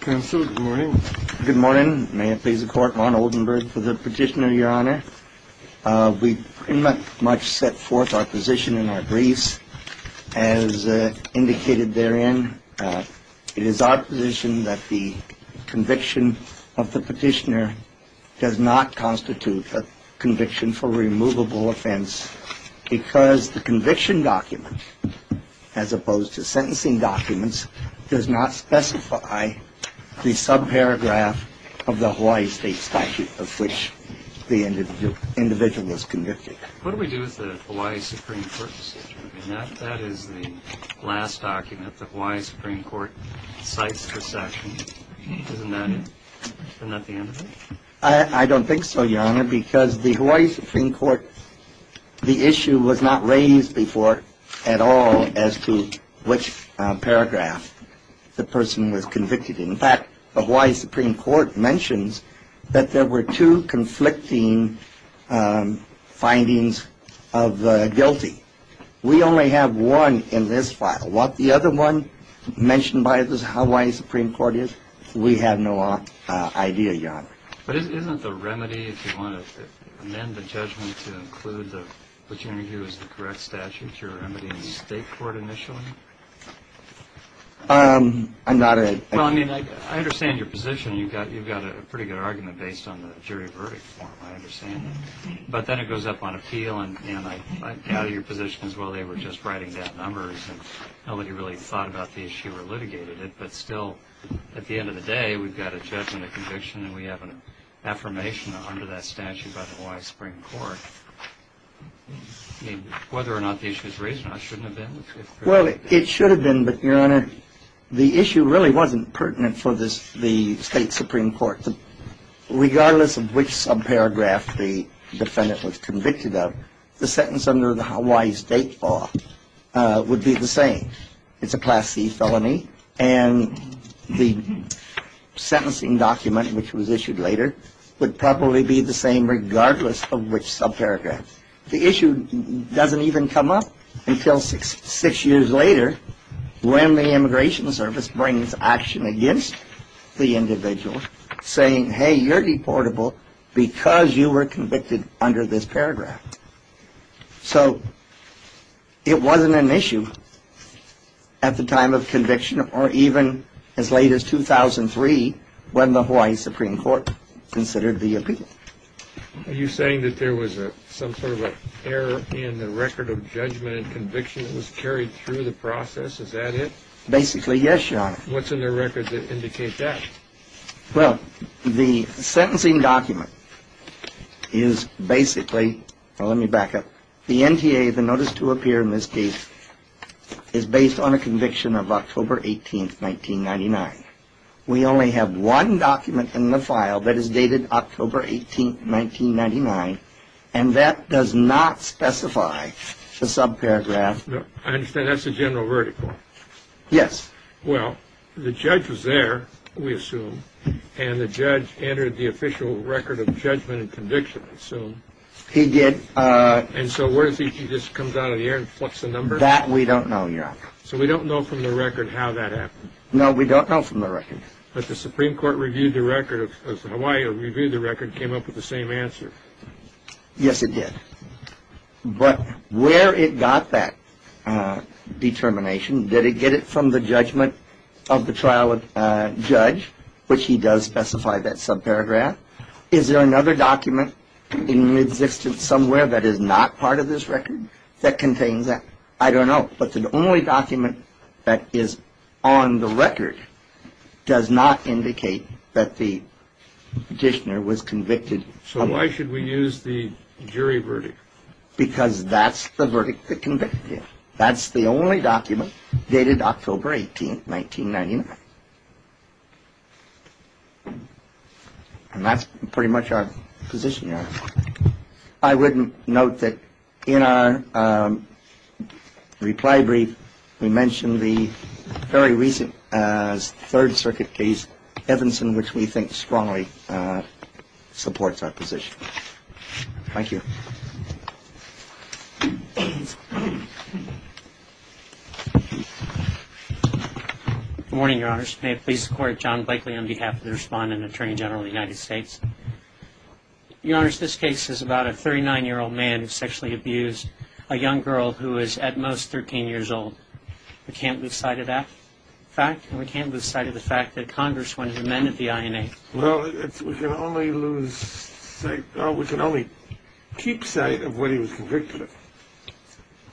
Good morning. May it please the court, Ron Oldenburg for the petitioner, your honor. We pretty much set forth our position in our briefs as indicated therein. It is our position that the conviction of the petitioner does not constitute a conviction for removable offense because the conviction document, as opposed to sentencing documents, does not specify the subparagraph of the Hawaii State statute of which the individual is convicted. What do we do with the Hawaii Supreme Court decision? I mean, that is the last document the Hawaii Supreme Court cites for session. Isn't that it? Isn't that the end of it? I don't think so, your honor, because the Hawaii Supreme Court, the issue was not raised before at all as to which paragraph the person was convicted in. In fact, the Hawaii Supreme Court mentions that there were two conflicting findings of the guilty. We only have one in this file. What the other one mentioned by the Hawaii Supreme Court is, we have no idea, your honor. But isn't the remedy, if you want to amend the judgment to include what you're going to do is the correct statute, your remedy in the state court initially? I'm not a... Well, I mean, I understand your position. You've got a pretty good argument based on the jury verdict form. I understand that. But then it goes up on appeal, and I value your position as well. They were just writing down numbers, and nobody really thought about the issue or litigated it. But still, at the end of the day, we've got a judgment, a conviction, and we have an affirmation under that statute by the Hawaii Supreme Court. I mean, whether or not the issue was raised or not shouldn't have been. Well, it should have been, but, your honor, the issue really wasn't pertinent for the state Supreme Court. Regardless of which subparagraph the defendant was convicted of, the sentence under the Hawaii State law would be the same. It's a Class C felony, and the sentencing document, which was issued later, would probably be the same regardless of which subparagraph. The issue doesn't even come up until six years later when the Immigration Service brings action against the individual saying, hey, you're deportable because you were convicted under this paragraph. So it wasn't an issue at the time of conviction or even as late as 2003 when the Hawaii Supreme Court considered the appeal. Are you saying that there was some sort of an error in the record of judgment and conviction that was carried through the process? Is that it? Basically, yes, your honor. What's in the record that indicates that? Well, the sentencing document is basically, well, let me back up. The NTA, the notice to appear in this case, is based on a conviction of October 18th, 1999. We only have one document in the file that is dated October 18th, 1999, and that does not specify the subparagraph. I understand that's the general vertical. Yes. Well, the judge was there, we assume, and the judge entered the official record of judgment and conviction, I assume. He did. And so what is he, he just comes out of the air and flips the number? That we don't know, your honor. So we don't know from the record how that happened? No, we don't know from the record. But the Supreme Court reviewed the record, Hawaii reviewed the record, came up with the same answer. Yes, it did. But where it got that determination, did it get it from the judgment of the trial judge, which he does specify that subparagraph? Is there another document in existence somewhere that is not part of this record that contains that? I don't know. But the only document that is on the record does not indicate that the petitioner was convicted. So why should we use the jury verdict? Because that's the verdict that convicted him. That's the only document dated October 18th, 1999. And that's pretty much our position, your honor. I wouldn't note that in our reply brief, we mentioned the very recent Third Circuit case, Evanson, which we think strongly supports our position. Thank you. Good morning, your honors. May it please the court, John Blakely on behalf of the respondent, Attorney General of the United States. Your honors, this case is about a 39-year-old man who sexually abused a young girl who is at most 13 years old. We can't lose sight of that fact, and we can't lose sight of the fact that Congress wanted to amend the INA. Well, we can only keep sight of what he was convicted of.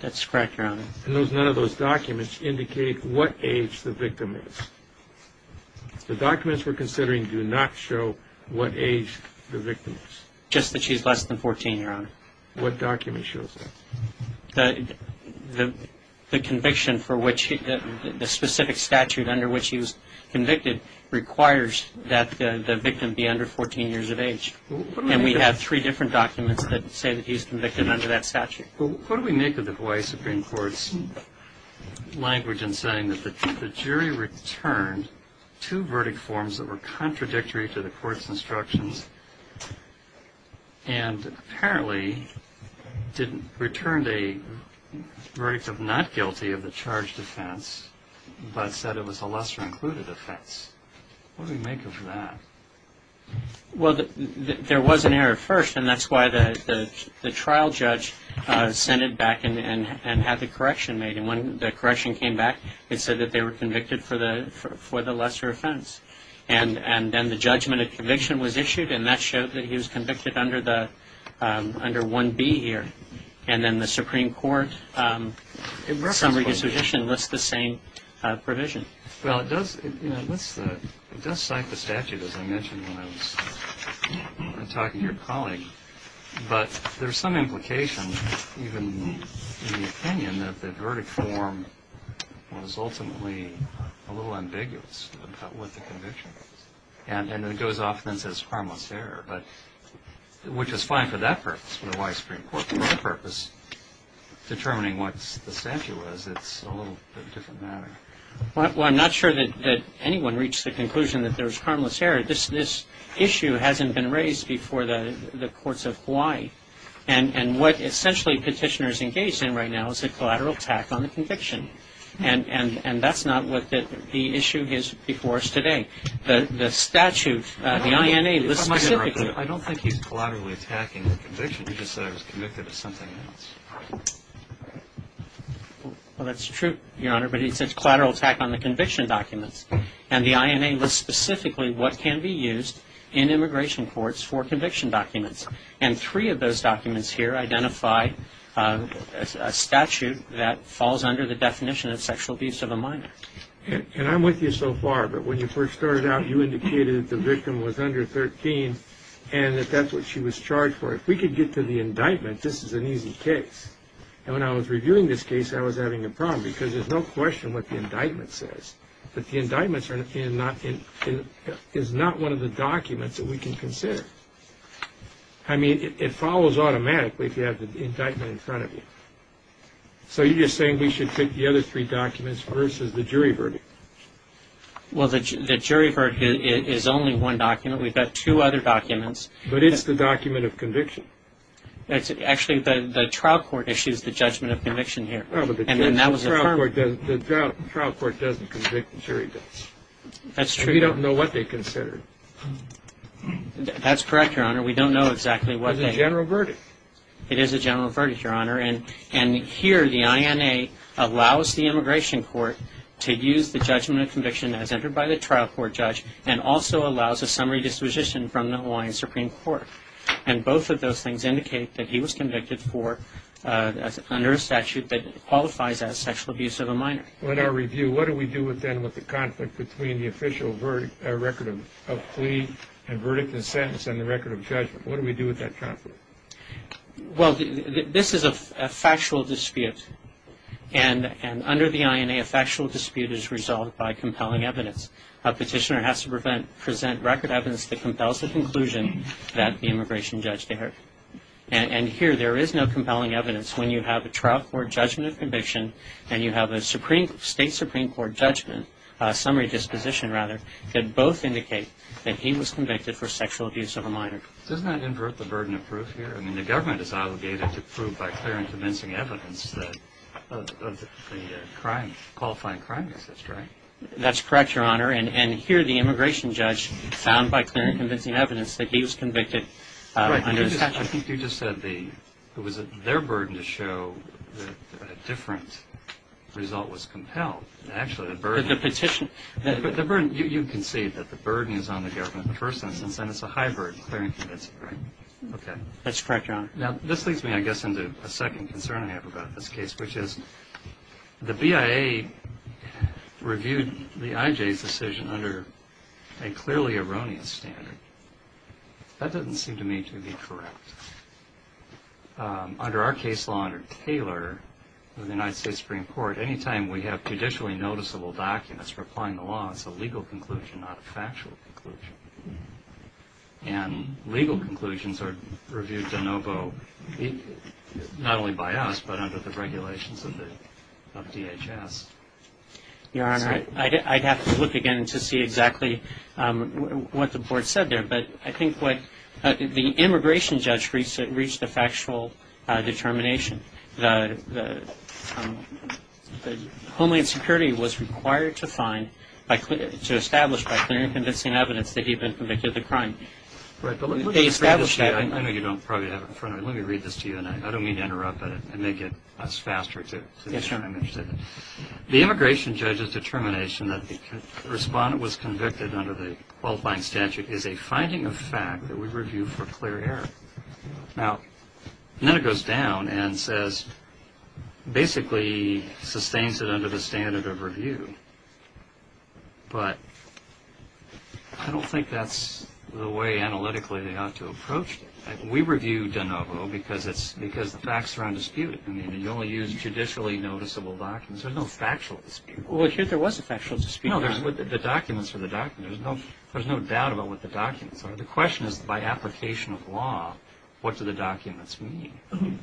That's correct, your honor. And none of those documents indicate what age the victim is. The documents we're considering do not show what age the victim is. Just that she's less than 14, your honor. What document shows that? The conviction for which the specific statute under which he was convicted requires that the victim be under 14 years of age. And we have three different documents that say that he's convicted under that statute. Well, what do we make of the Hawaii Supreme Court's language in saying that the jury returned two verdict forms that were contradictory to the court's instructions and apparently returned a verdict of not guilty of the charged offense but said it was a lesser-included offense? What do we make of that? Well, there was an error at first, and that's why the trial judge sent it back and had the correction made. And when the correction came back, it said that they were convicted for the lesser offense. And then the judgment of conviction was issued, and that showed that he was convicted under 1B here. And then the Supreme Court summary disposition lists the same provision. Well, it does cite the statute, as I mentioned when I was talking to your colleague. But there's some implication, even in the opinion, that the verdict form was ultimately a little ambiguous about what the conviction was. And it goes off and says harmless error, which is fine for that purpose, for the Hawaii Supreme Court. Well, for my purpose, determining what the statute was, it's a little bit of a different matter. Well, I'm not sure that anyone reached the conclusion that there was harmless error. This issue hasn't been raised before the courts of Hawaii. And what essentially petitioners engage in right now is a collateral attack on the conviction. And that's not what the issue is before us today. The statute, the INA lists specifically. I don't think he's collaterally attacking the conviction. He just said I was convicted of something else. Well, that's true, Your Honor, but he says collateral attack on the conviction documents. And the INA lists specifically what can be used in immigration courts for conviction documents. And three of those documents here identify a statute that falls under the definition of sexual abuse of a minor. And I'm with you so far, but when you first started out, you indicated that the victim was under 13 and that that's what she was charged for. If we could get to the indictment, this is an easy case. And when I was reviewing this case, I was having a problem because there's no question what the indictment says. But the indictment is not one of the documents that we can consider. I mean, it follows automatically if you have the indictment in front of you. So you're just saying we should pick the other three documents versus the jury verdict? Well, the jury verdict is only one document. We've got two other documents. But it's the document of conviction. Actually, the trial court issues the judgment of conviction here. The trial court doesn't convict jury votes. That's true. We don't know what they consider. That's correct, Your Honor. We don't know exactly what they do. It's a general verdict. It is a general verdict, Your Honor. And here the INA allows the immigration court to use the judgment of conviction as entered by the trial court judge and also allows a summary disposition from the Hawaiian Supreme Court. And both of those things indicate that he was convicted under a statute that qualifies as sexual abuse of a minor. Well, in our review, what do we do then with the conflict between the official record of plea and verdict and sentence and the record of judgment? What do we do with that conflict? Well, this is a factual dispute. And under the INA, a factual dispute is resolved by compelling evidence. A petitioner has to present record evidence that compels the conclusion that the immigration judge did it. And here there is no compelling evidence when you have a trial court judgment of conviction and you have a state Supreme Court judgment, summary disposition rather, Doesn't that invert the burden of proof here? I mean, the government is obligated to prove by clear and convincing evidence that the crime, qualifying crime exists, right? That's correct, Your Honor. And here the immigration judge found by clear and convincing evidence that he was convicted under a statute. Right. I think you just said it was their burden to show that a different result was compelled. Actually, the burden was. The petition. You concede that the burden is on the government in the first instance and it's a hybrid, clear and convincing, right? Okay. That's correct, Your Honor. Now, this leads me, I guess, into a second concern I have about this case, which is the BIA reviewed the IJ's decision under a clearly erroneous standard. That doesn't seem to me to be correct. Under our case law under Taylor in the United States Supreme Court, any time we have judicially noticeable documents replying to law, it's a legal conclusion, not a factual conclusion. And legal conclusions are reviewed de novo, not only by us, but under the regulations of DHS. Your Honor, I'd have to look again to see exactly what the board said there, but I think what the immigration judge reached a factual determination. The Homeland Security was required to establish by clear and convincing evidence that he had been convicted of the crime. Right, but let me read this to you. I know you don't probably have it in front of you. Let me read this to you, and I don't mean to interrupt, but it may get us faster. Yes, Your Honor. The immigration judge's determination that the respondent was convicted under the qualifying statute is a finding of fact that we review for clear error. Now, then it goes down and says basically sustains it under the standard of review, but I don't think that's the way analytically they ought to approach it. We review de novo because the facts are undisputed. I mean, you only use judicially noticeable documents. There's no factual dispute. Well, here there was a factual dispute. No, the documents are the documents. There's no doubt about what the documents are. The question is by application of law, what do the documents mean?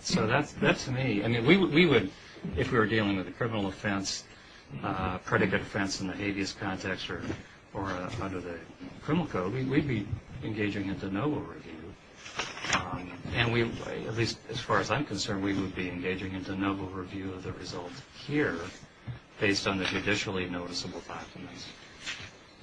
So that's me. I mean, we would, if we were dealing with a criminal offense, predicate offense in the habeas context or under the criminal code, we'd be engaging in de novo review. And we, at least as far as I'm concerned, we would be engaging in de novo review of the results here based on the judicially noticeable documents.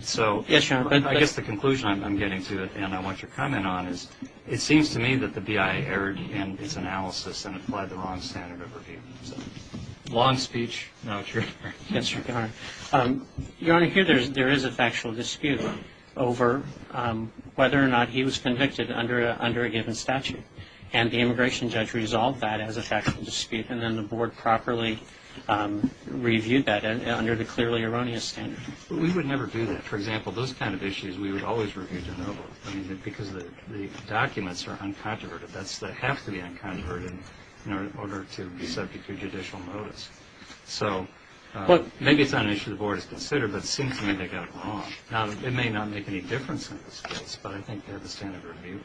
So I guess the conclusion I'm getting to, and I want your comment on, is it seems to me that the BIA erred in its analysis and applied the wrong standard of review. So long speech, no truth. Yes, Your Honor. Your Honor, here there is a factual dispute over whether or not he was convicted under a given statute. And the immigration judge resolved that as a factual dispute, and then the Board properly reviewed that under the clearly erroneous standard. But we would never do that. For example, those kind of issues we would always review de novo. I mean, because the documents are uncontroverted. They have to be uncontroverted in order to be subject to judicial notice. So maybe it's not an issue the Board has considered, but it seems to me they got it wrong. Now, it may not make any difference in this case, but I think they have the standard of review.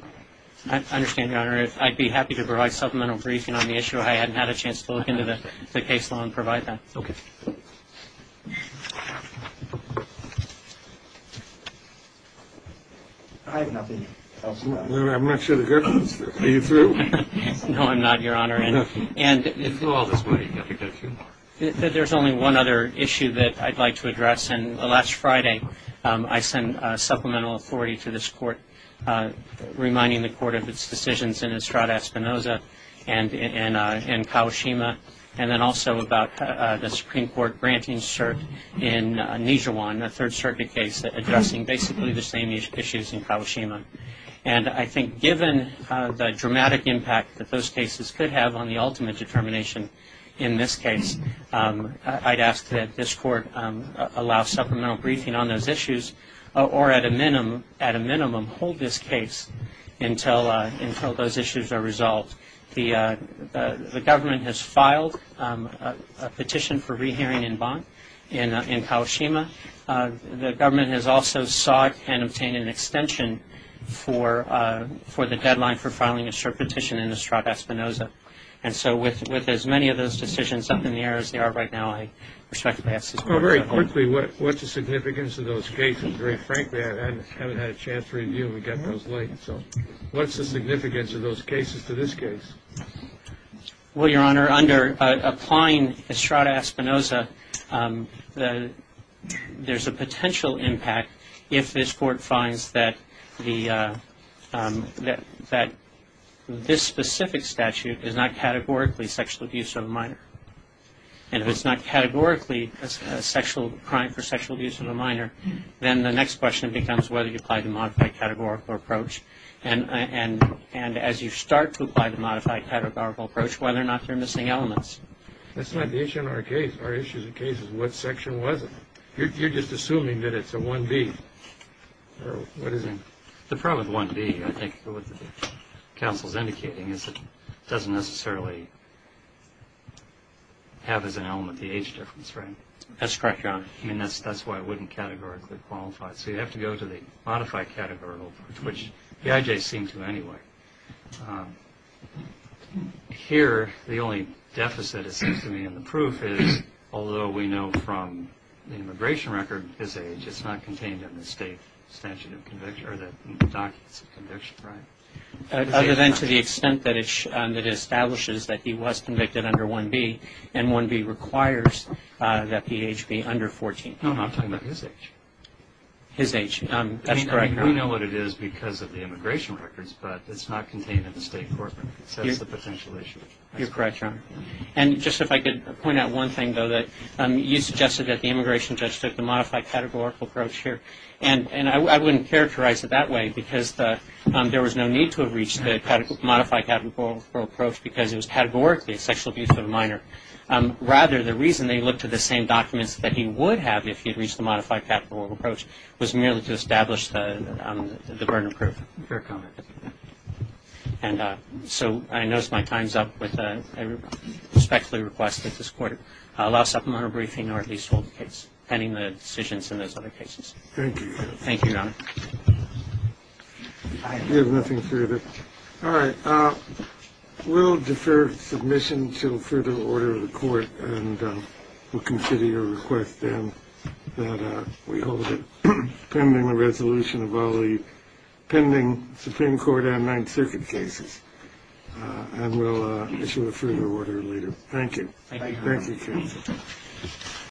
I understand, Your Honor. I'd be happy to provide supplemental briefing on the issue. I hadn't had a chance to look into the case law and provide that. Okay. I have nothing else to add. I'm not sure the government is through. Are you through? No, I'm not, Your Honor. It flew all this way. You have to get a few more. There's only one other issue that I'd like to address. And last Friday, I sent supplemental authority to this Court, reminding the Court of its decisions in Estrada Espinoza and in Kawashima, and then also about the Supreme Court granting cert in Nijiwan, a Third Circuit case, addressing basically the same issues in Kawashima. And I think given the dramatic impact that those cases could have on the ultimate determination in this case, I'd ask that this Court allow supplemental briefing on those issues or at a minimum hold this case until those issues are resolved. The government has filed a petition for rehearing in Bonn, in Kawashima. The government has also sought and obtained an extension for the deadline for filing a cert petition in Estrada Espinoza. And so with as many of those decisions up in the air as they are right now, I respectfully ask this Court to cover them. Well, very quickly, what's the significance of those cases? Very frankly, I haven't had a chance to review them. We got those late. So what's the significance of those cases to this case? Well, Your Honor, under applying Estrada Espinoza, there's a potential impact if this Court finds that this specific statute is not categorically sexual abuse of a minor. And if it's not categorically a sexual crime for sexual abuse of a minor, then the next question becomes whether you apply the modified categorical approach. And as you start to apply the modified categorical approach, whether or not there are missing elements. That's not the issue in our case. Our issue in the case is what section was it. You're just assuming that it's a 1B. What is it? The problem with 1B, I think, with what the counsel is indicating, is it doesn't necessarily have as an element the age difference, right? That's correct, Your Honor. I mean, that's why it wouldn't categorically qualify. So you have to go to the modified categorical approach, which the IJs seem to anyway. Here, the only deficit, it seems to me, in the proof is, although we know from the immigration record his age, it's not contained in the state statute of conviction or the documents of conviction, right? Other than to the extent that it establishes that he was convicted under 1B, and 1B requires that the age be under 14. No, I'm talking about his age. His age. That's correct, Your Honor. We know what it is because of the immigration records, but it's not contained in the state court. So that's the potential issue. You're correct, Your Honor. And just if I could point out one thing, though, that you suggested that the immigration judge took the modified categorical approach here. And I wouldn't characterize it that way because there was no need to have reached the modified categorical approach because it was categorically a sexual abuse of a minor. Rather, the reason they looked at the same documents that he would have if he had reached the modified categorical approach was merely to establish the burden of proof. Fair comment. And so I nosed my times up with a respectfully request that this Court allow supplemental briefing or at least hold the case pending the decisions in those other cases. Thank you. Thank you, Your Honor. I have nothing further. All right. We'll defer submission to a further order of the Court, and we'll consider your request then that we hold it pending the resolution of all the pending Supreme Court and Ninth Circuit cases, and we'll issue a further order later. Thank you. Thank you, Your Honor. Thank you, counsel.